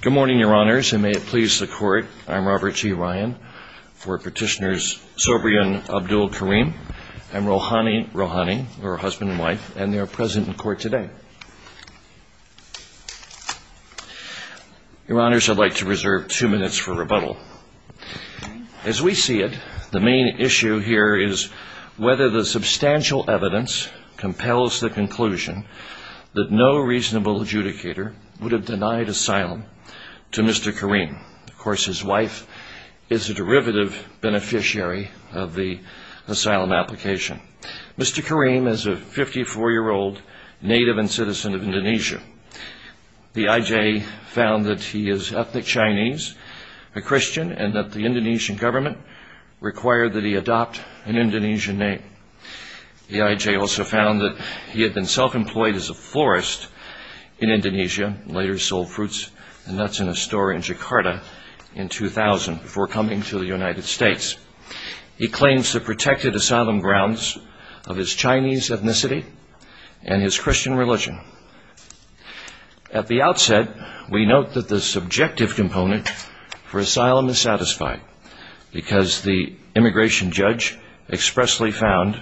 Good morning your honors and may it please the court I'm Robert T. Ryan for petitioners Sobrian Abdul-Karim and Rohani Rohani her husband and wife and they are present in court today. Your honors I'd like to reserve two minutes for rebuttal. As we see it the main issue here is whether the substantial evidence compels the conclusion that no reasonable adjudicator would have denied asylum to Mr. Karim. Of course his wife is a derivative beneficiary of the asylum application. Mr. Karim is a 54 year old native and citizen of Indonesia. The IJ found that he is ethnic Chinese a Christian and that the Indonesian government required that he adopt an Indonesian name. The IJ also found that he had been self-employed as a florist in Indonesia later sold fruits and nuts in a store in Jakarta in 2000 before coming to the United States. He claims the protected asylum grounds of his Chinese ethnicity and his Christian religion. At the outset we note that the subjective component for asylum is satisfied because the immigration judge expressly found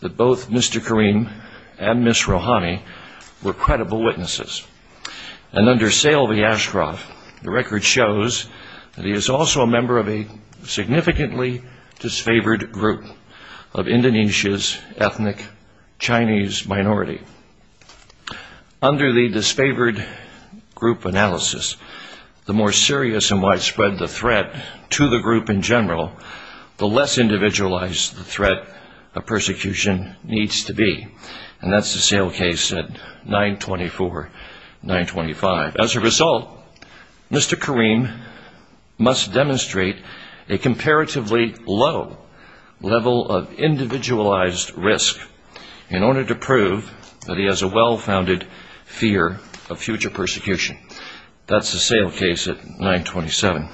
that both Mr. Karim and Miss Rohani were credible witnesses and under Selvi Ashraf the record shows that he is also a member of a significantly disfavored group of Indonesia's ethnic Chinese minority. Under the disfavored group analysis the more serious and widespread the threat to the group in general the less individualized the persecution needs to be and that's the sale case at 924 925. As a result Mr. Karim must demonstrate a comparatively low level of individualized risk in order to prove that he has a well-founded fear of future persecution. That's the sale case at 927.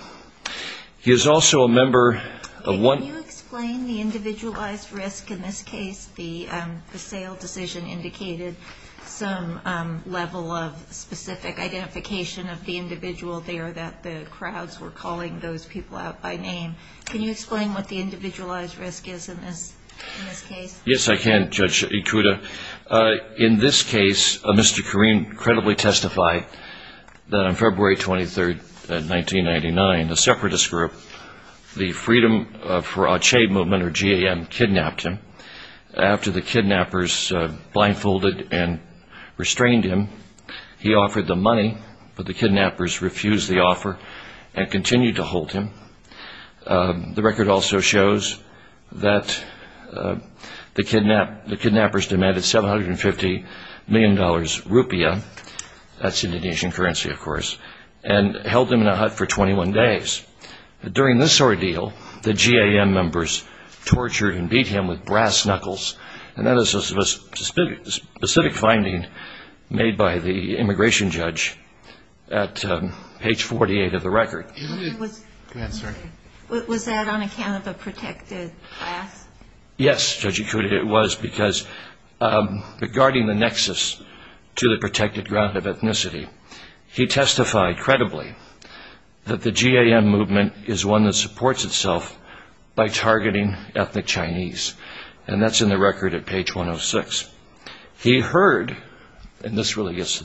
He is also a member of one... Can you explain the individualized risk in this case? The sale decision indicated some level of specific identification of the individual there that the crowds were calling those people out by name. Can you explain what the individualized risk is in this case? Yes I can Judge Ikuda. In this case Mr. Karim credibly testified that on February 23rd 1999 the separatist group the Freedom for Aceh Movement or GAM kidnapped him. After the kidnappers blindfolded and restrained him he offered the money but the kidnappers refused the offer and continued to hold him. The record also shows that the kidnappers demanded 750 million dollars rupiah, that's Indonesian currency of course, and held him in a hut for 21 days. During this ordeal the GAM members tortured and beat him with brass knuckles and that is a specific finding made by the immigration judge at page 48 of the record. Was that on account of a protected class? Yes Judge Ikuda it was because regarding the nexus to the protected ground of ethnicity he testified credibly that the GAM movement is one that supports itself by targeting ethnic Chinese and that's in the record at page 106. He heard, and this really gets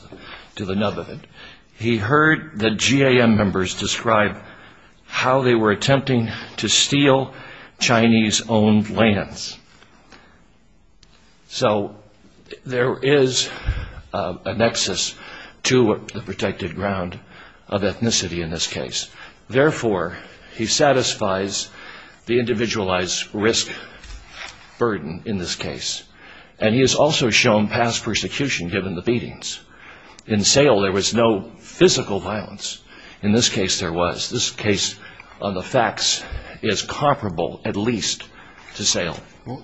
to the nub of it, he heard the GAM members describe how they were attempting to steal Chinese owned lands. So there is a nexus to the protected ground of ethnicity in this case. Therefore he satisfies the individualized risk burden in this case and he is also shown past persecution given the beatings. In Sale there was no physical violence, in this case there was. This case on the facts is comparable at least to Sale.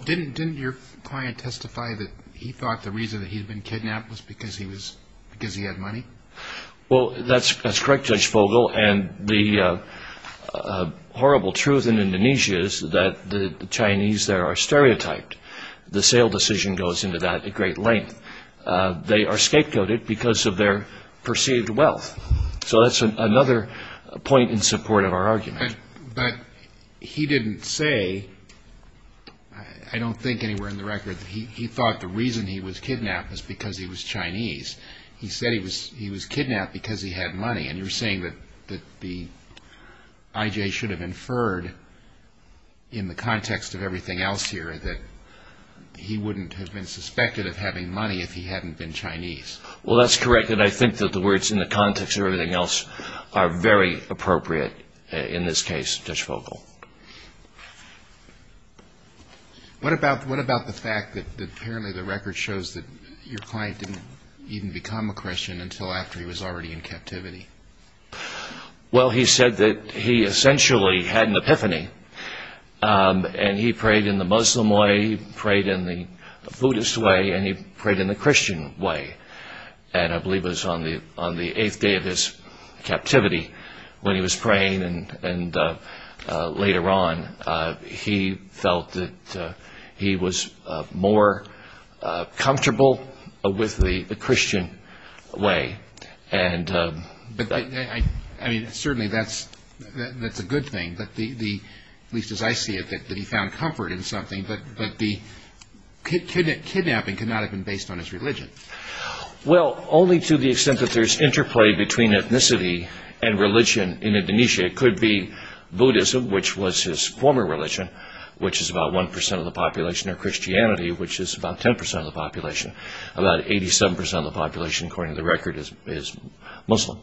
Didn't your client testify that he thought the reason he had been kidnapped was because he had money? Well that's correct Judge Fogle and the horrible truth in Indonesia is that the Chinese there are stereotyped. The Sale decision goes into that category. They are scapegoated because of their perceived wealth. So that's another point in support of our argument. But he didn't say, I don't think anywhere in the record that he thought the reason he was kidnapped was because he was Chinese. He said he was kidnapped because he had money and you're saying that the IJ should have inferred in the context of everything else here that he wouldn't have been suspected of being Chinese. He wouldn't have been suspected of having money if he hadn't been Chinese. Well that's correct and I think that the words in the context of everything else are very appropriate in this case, Judge Fogle. What about the fact that apparently the record shows that your client didn't even become a Christian until after he was already in captivity? Well he said that he essentially had an epiphany and he prayed in the Muslim way, he prayed in the Buddhist way and he prayed in the Christian way and I believe it was on the 8th day of his captivity when he was praying and later on he felt that he was more comfortable with the Christian way. Certainly that's a good thing, at least as I see it, that he found comfort in something but the kidnapping could not have been based on his religion. Well only to the extent that there's interplay between ethnicity and religion in Indonesia, it could be Buddhism which was his former religion which is about 1% of the population or Christianity which is about 10% of the population, about 87% of the population according to the record is Muslim.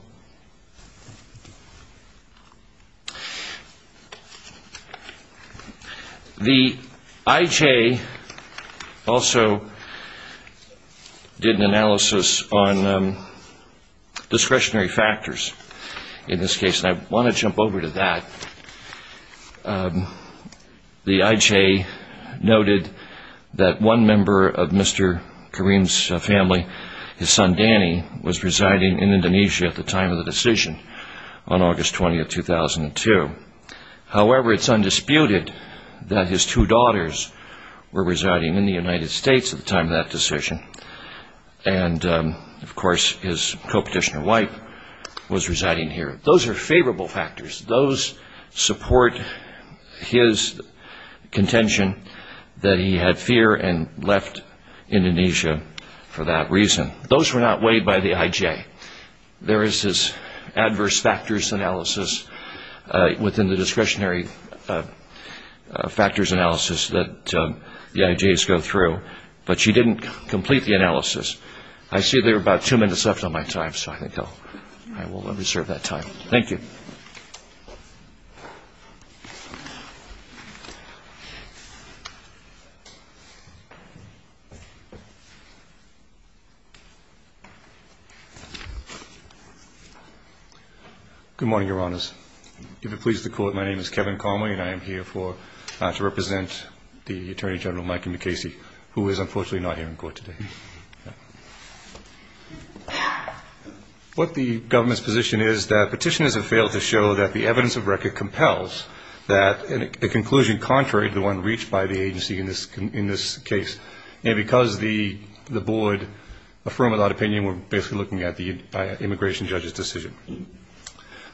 The IJ also did an analysis on discretionary factors in this case and I want to jump over to that. The IJ noted that one member of Mr. Karim's family, his son Danny, was residing in Indonesia at the time of the decision on August 20, 2002, however it's undisputed that his two daughters were residing in the United States at the time of that decision and of course his co-petitioner wife was residing here. Those are favorable factors. Those support his contention that he had fear and left Indonesia for that reason. Those were not weighed by the IJ. There is this adverse factors analysis within the discretionary factors analysis that the IJs go through but she didn't complete the analysis. I see there are about two minutes left on my time so I will reserve that time. Thank you. Good morning, Your Honors. My name is Kevin Conway and I am here to represent the Attorney General, Mikey McCasey, who is unfortunately not here in court today. What the government's position is that petitioners have failed to show that the evidence of record compels that the conclusion contrary to the one reached by the agency in this case and because the board affirmed that opinion we are basically looking at the immigration judge's decision.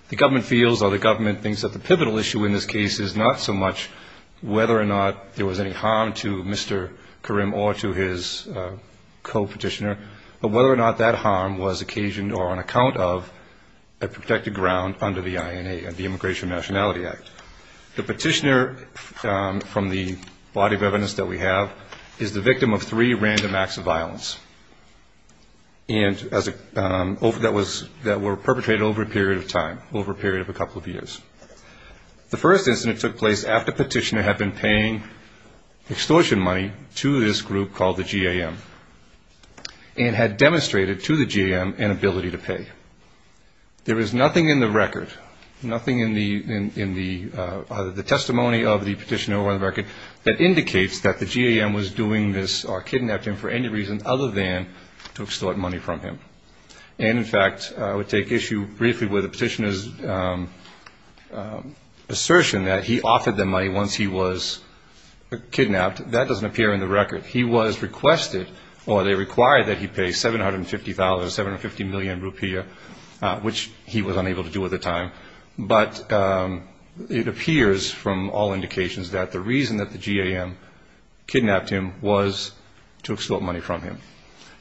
The government feels or the government thinks that the pivotal issue in this case is not so much whether or not there was any harm to Mr. Karim or to his co-petitioner but whether or not that harm was occasioned or on account of a protected ground under the INA, the Immigration and Nationality Act. The petitioner from the body of evidence that we have is the victim of three random acts of violence that were perpetrated over a period of time, over a period of a couple of years. The first incident took place after the petitioner had been paying extortion money to this group called the GAM and had demonstrated to the GAM an ability to pay. There is nothing in the record, nothing in the testimony of the petitioner on the record that indicates that the GAM was doing this or kidnapped him for any reason other than to extort money from him. In fact, I would take issue briefly with the petitioner's assertion that he offered them money once he was kidnapped. That doesn't appear in the record. He was requested or they required that he pay 750,000, 750 million rupiah which he was unable to do at the time but it appears from all indications that the reason that the GAM kidnapped him was to extort money from him.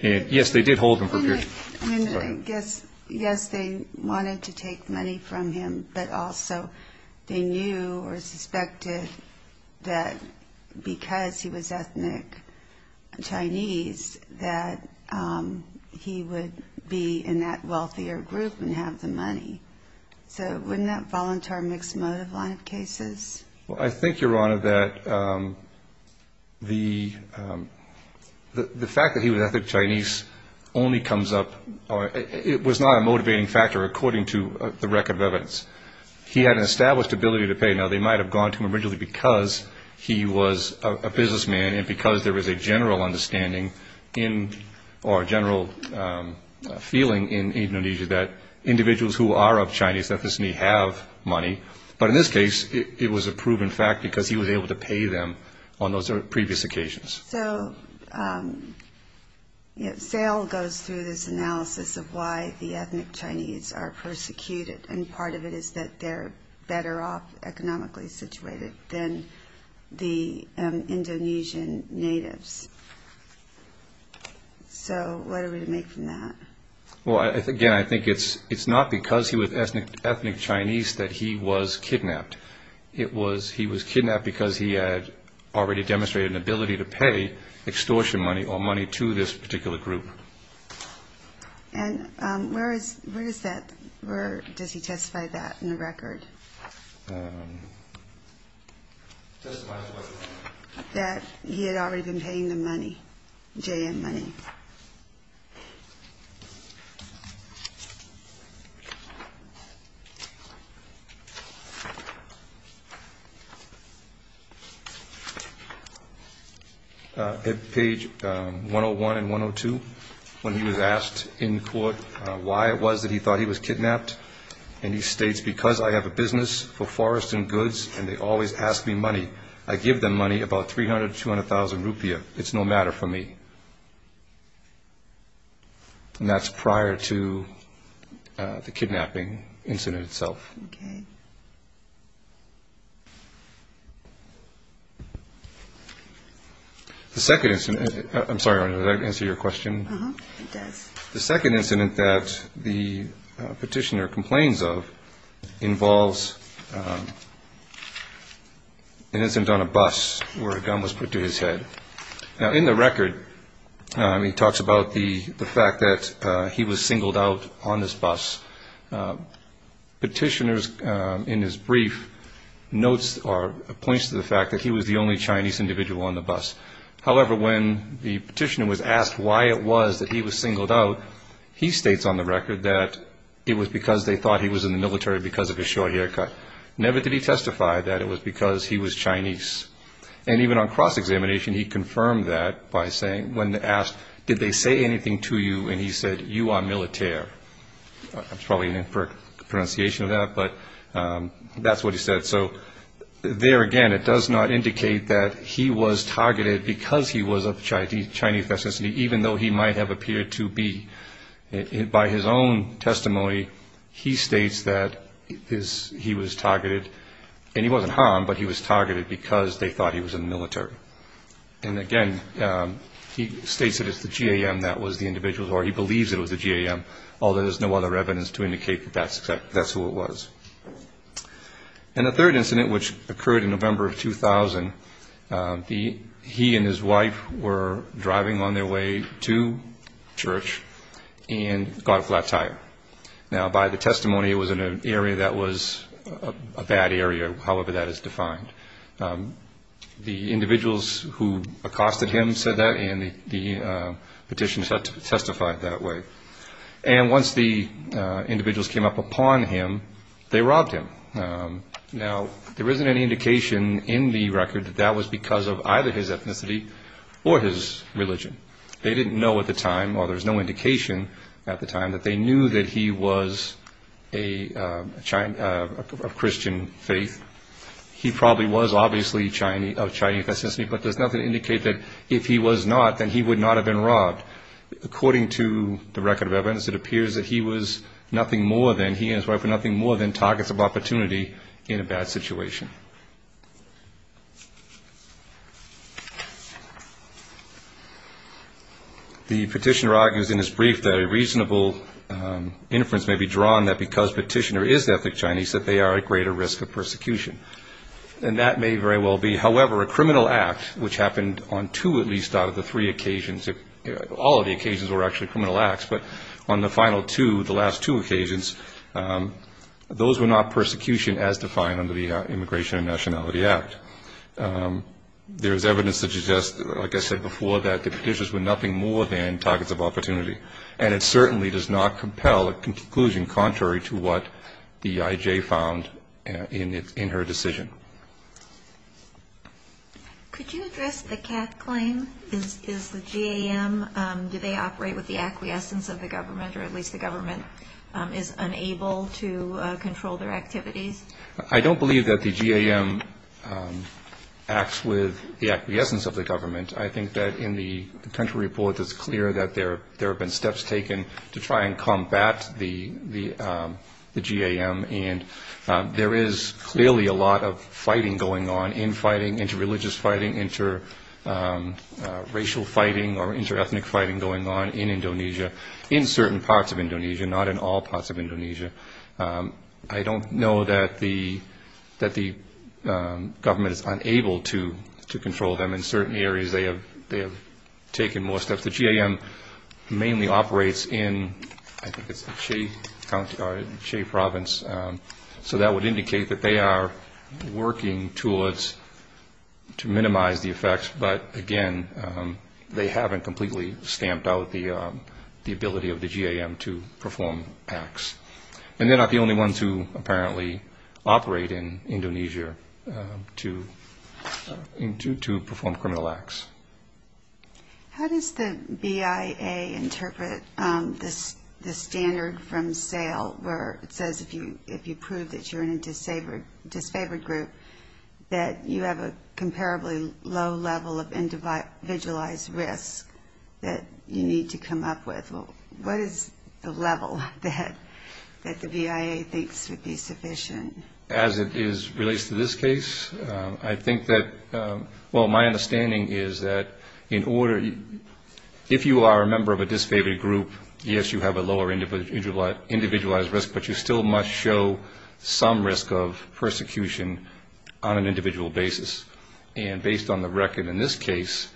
Yes, they did hold him for a period of time. Yes, they wanted to take money from him but also they knew or suspected that because he was ethnic Chinese that he would be in that wealthier group and have the money. So wouldn't that fall into our mixed motive line of cases? Well, I think, Your Honor, that the fact that he was ethnic Chinese only comes up or it was not a motivating factor according to the record of evidence. He had an established ability to pay. Now, they might have gone to him originally because he was a businessman and because there was a general understanding or general feeling in Indonesia that individuals who are of Chinese ethnicity have money. But in this case, it was a proven fact because he was able to pay them on those previous occasions. So, Sale goes through this analysis of why the ethnic Chinese are persecuted and part of it is that they're better off economically situated than the Indonesian natives. So, what are we to make from that? Well, again, I think it's not because he was ethnic Chinese that he was kidnapped. It was he was kidnapped because he had already demonstrated an ability to pay extortion money or money to this particular group. And where is that? Where does he testify that in the record? That he had already been paying the money, JM money. Page 101 and 102, when he was asked in court why it was that he thought he was kidnapped and he states, because I have a business for forest and goods and they always ask me money. I give them money about 300, 200,000 rupiah. It's no matter for me. And that's prior to the kidnapping incident itself. The second incident, I'm sorry, did that answer your question? It does. The second incident that the petitioner complains of involves an incident on a bus where a gun was put to his head. Now, in the record, he talks about the fact that he was singled out on this bus. Petitioners in his brief notes or points to the fact that he was the only Chinese individual on the bus. However, when the petitioner was asked why it was that he was singled out, he states on the record that it was because they thought he was in the military because of his short haircut. Never did he testify that it was because he was Chinese. And even on cross-examination, he confirmed that by saying, when asked, did they say anything to you? And he said, you are military. It's probably an inferred pronunciation of that, but that's what he said. So there again, it does not indicate that he was targeted because he was of Chinese ethnicity, even though he might have appeared to be. By his own testimony, he states that he was targeted. And he wasn't harmed, but he was targeted because they thought he was in the military. And again, he states that it's the G.A.M. that was the individual, or he believes it was the G.A.M., although there's no other evidence to indicate that that's who it was. And the third incident, which occurred in November of 2000, he and his wife were driving on their way to church and got a flat tire. Now, by the testimony, it was in an area that was a bad area, however that is defined. The individuals who accosted him said that, and the petitioner testified that way. And once the individuals came up upon him, they robbed him. Now, there isn't any indication in the record that that was because of either his ethnicity or his religion. They didn't know at the time, or there's no indication at the time, that they knew that he was of Christian faith. He probably was obviously of Chinese ethnicity, but there's nothing to indicate that if he was not, then he would not have been robbed. According to the record of evidence, it appears that he was nothing more than, he and his wife were nothing more than targets of opportunity in a bad situation. The petitioner argues in his brief that a reasonable inference may be drawn that because the petitioner is ethnic Chinese that they are at greater risk of persecution. And that may very well be, however, a criminal act, which happened on two at least out of the three occasions. All of the occasions were actually criminal acts, but on the final two, the last two occasions, those were not persecution as defined under the Immigration and Nationality Act. There is evidence that suggests, like I said before, that the petitions were nothing more than targets of opportunity. And it certainly does not compel a conclusion contrary to what the IJ found in her decision. Could you address the Kath claim? Is the GAM, do they operate with the acquiescence of the government, or at least the government is unable to control their activities? I don't believe that the GAM acts with the acquiescence of the government. I think that in the country report, it's clear that there have been steps taken to try and combat the GAM. And there is clearly a lot of fighting going on, in-fighting, inter-religious fighting, inter-racial fighting or inter-ethnic fighting going on in Indonesia, in certain parts of Indonesia, not in all parts of Indonesia. I don't know that the government is unable to control them. In certain areas, they have taken more steps. The GAM mainly operates in, I think it's Shea County or Shea Province. So that would indicate that they are working towards, to minimize the effects. But again, they haven't completely stamped out the ability of the GAM to perform acts. And they're not the only ones who apparently operate in Indonesia to perform criminal acts. How does the BIA interpret the standard from SAIL where it says if you prove that you're in a disfavored group, that you have a comparably low level of individualized risk that you need to come up with? What is the level that the BIA thinks would be sufficient? As it relates to this case, I think that, well, my understanding is that in order, if you are a member of a disfavored group, yes, you have a lower individualized risk, but you still must show some risk of persecution on an individual basis. And based on the record in this case,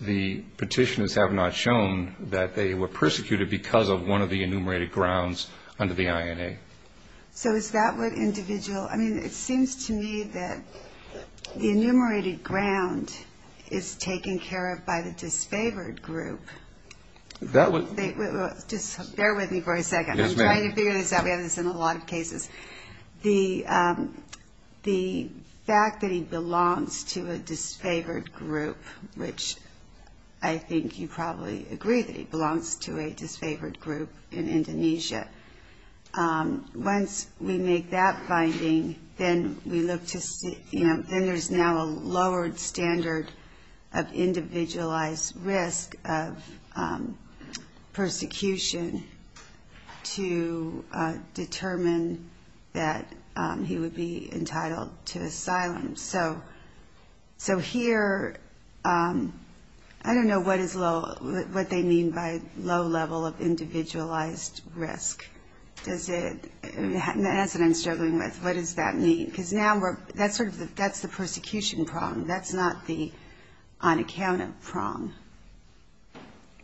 the petitioners have not shown that they were persecuted because of one of the enumerated grounds under the INA. So is that what individual, I mean, it seems to me that the enumerated ground is taken care of by the disfavored group. Just bear with me for a second. I'm trying to figure this out. We have this in a lot of cases. The fact that he belongs to a disfavored group, which I think you probably agree that he belongs to a disfavored group in Indonesia. Once we make that finding, then we look to see, you know, then there's now a lowered standard of individualized risk of persecution to determine that he would be entitled to asylum. So here, I don't know what they mean by low level of individualized risk. Does it, that's what I'm struggling with. What does that mean? Because now we're, that's sort of, that's the persecution problem. That's not the on account of problem.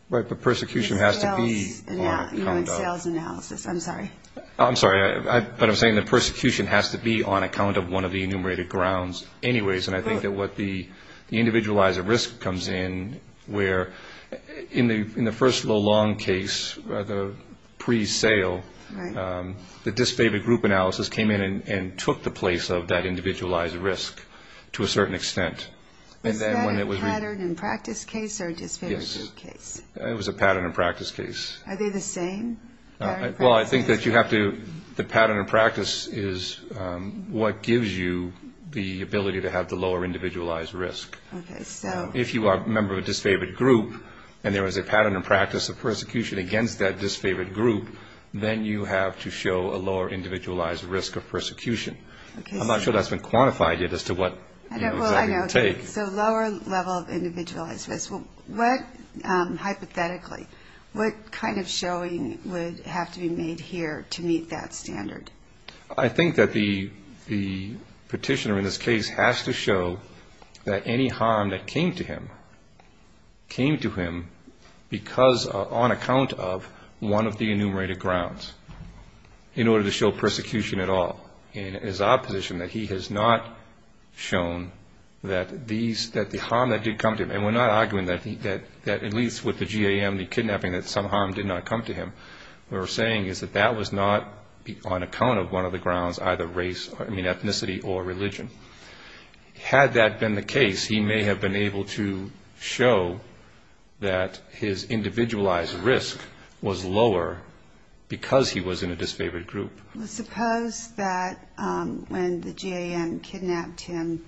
Right, but persecution has to be on account of. Sales analysis, I'm sorry. I'm sorry, but I'm saying that persecution has to be on account of one of the enumerated grounds anyways. And I think that what the individualized risk comes in, where in the first low long case, the pre-sale, the disfavored group analysis came in and took the place of that individualized risk to a certain extent. Is that a pattern and practice case or a disfavored group case? It was a pattern and practice case. Are they the same? Well, I think that you have to, the pattern and practice is what gives you the ability to have the lower individualized risk. Okay, so. If you are a member of a disfavored group and there was a pattern and practice of persecution against that disfavored group, then you have to show a lower individualized risk of persecution. I'm not sure that's been quantified yet as to what. I know, so lower level of individualized risk. What, hypothetically, what kind of showing would have to be made here to meet that standard? I think that the petitioner in this case has to show that any harm that came to him, came to him because on account of one of the enumerated grounds in order to show persecution at all. In his opposition, that he has not shown that these, that the harm that did come to him, and we're not arguing that at least with the GAM, the kidnapping, that some harm did not come to him. What we're saying is that that was not on account of one of the grounds, either race, I mean, ethnicity or religion. Had that been the case, he may have been able to show that his individualized risk was lower because he was in a disfavored group. Well, suppose that when the GAM kidnapped him,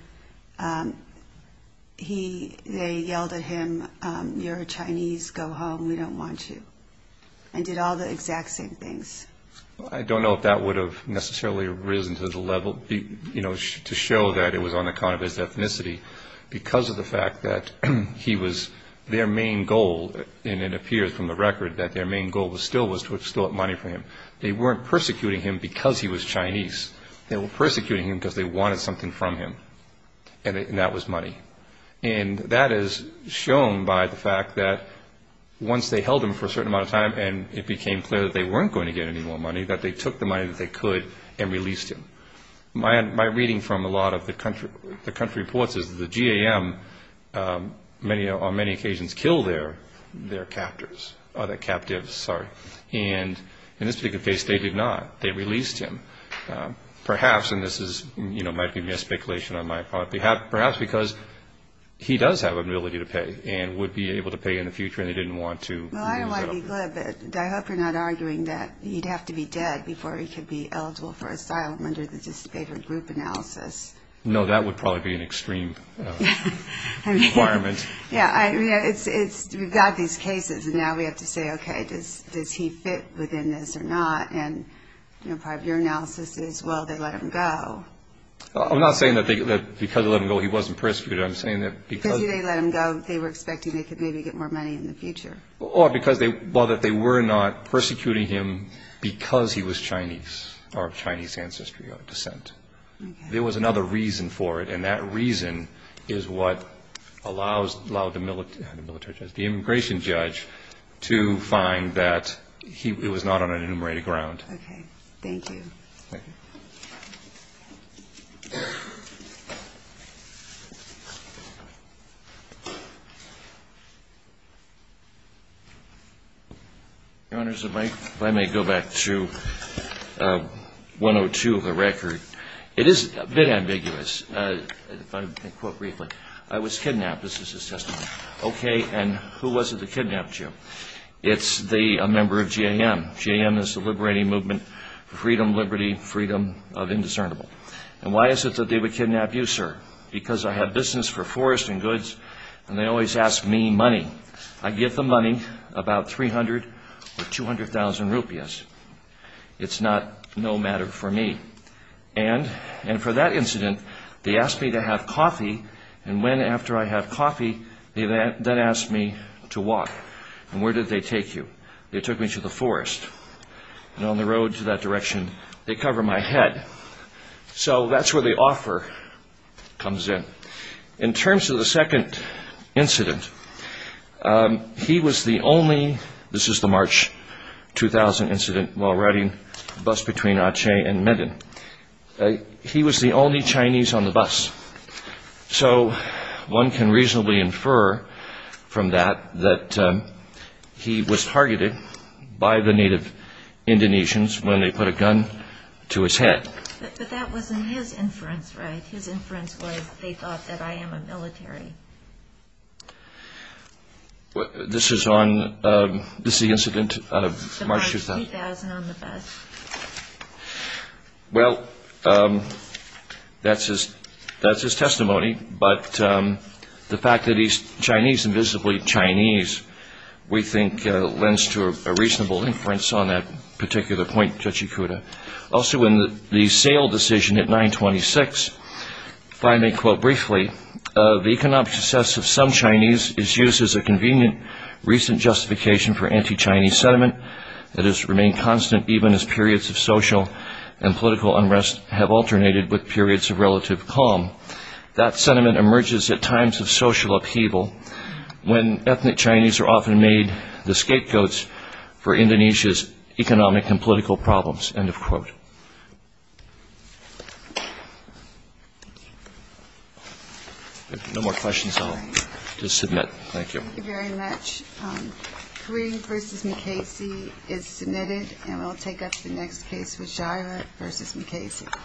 they yelled at him, you're a Chinese, go home, we don't want you, and did all the exact same things. I don't know if that would have necessarily risen to the level, you know, to show that it was on account of his ethnicity because of the fact that he was, their main goal, and it appears from the record that their main goal was still to build up money for him. They weren't persecuting him because he was Chinese. They were persecuting him because they wanted something from him, and that was money. And that is shown by the fact that once they held him for a certain amount of time and it became clear that they weren't going to get any more money, that they took the money that they could and released him. My reading from a lot of the country reports is that the GAM, on many occasions, kill their captors, their captives, sorry. And in this particular case, they did not. They released him, perhaps, and this might be a speculation on my part, perhaps because he does have an ability to pay and would be able to pay in the future and they didn't want to. Well, I don't want to be glib, but I hope you're not arguing that he'd have to be dead before he could be eligible for asylum under the disfavored group analysis. No, that would probably be an extreme requirement. Yeah, we've got these cases and now we have to say, okay, does he fit within this or not? And part of your analysis is, well, they let him go. I'm not saying that because they let him go, he wasn't persecuted. I'm saying that because they let him go, they were expecting they could maybe get more money in the future. Or that they were not persecuting him because he was Chinese or of Chinese ancestry or descent. There was another reason for it, and that reason is what allowed the immigration judge to find that he was not on an enumerated ground. Okay. Thank you. Thank you. Your Honor, if I may go back to 102 of the record. It is a bit ambiguous. If I can quote briefly. I was kidnapped. This is his testimony. Okay, and who was it that kidnapped you? It's a member of J.A.M. J.A.M. is the liberating movement for freedom, liberty, freedom, liberty. And why is it that they would kidnap you, sir? Because I have business for forest and goods, and they always ask me money. I give them money, about 300 or 200,000 rupees. It's not no matter for me. And for that incident, they asked me to have coffee, and when after I had coffee, they then asked me to walk. They took me to the forest. And on the road to that direction, they cover my head. So that's where the offer comes in. In terms of the second incident, he was the only, this is the March 2000 incident, while riding the bus between Aceh and Medan. He was the only Chinese on the bus. So one can reasonably infer from that that he was targeted by the native Indonesians when they put a gun to his head. But that wasn't his inference, right? His inference was they thought that I am a military. This is on, this is the incident out of March 2000. 2000 on the bus. Well, that's his testimony. But the fact that he's Chinese, invisibly Chinese, we think lends to a reasonable inference on that particular point, Judge Ikuda. Also in the sale decision at 926, if I may quote briefly, the economic success of some Chinese is used as a convenient recent justification for anti-Chinese sentiment. It has remained constant even as periods of social and political unrest have alternated with periods of relative calm. That sentiment emerges at times of social upheaval when ethnic Chinese are often made the scapegoats for Indonesia's economic and political problems, end of quote. If there are no more questions, I'll just submit. Thank you. Thank you very much. Kareem v. McKasey is submitted, and we'll take up the next case with Jaira v. McKasey.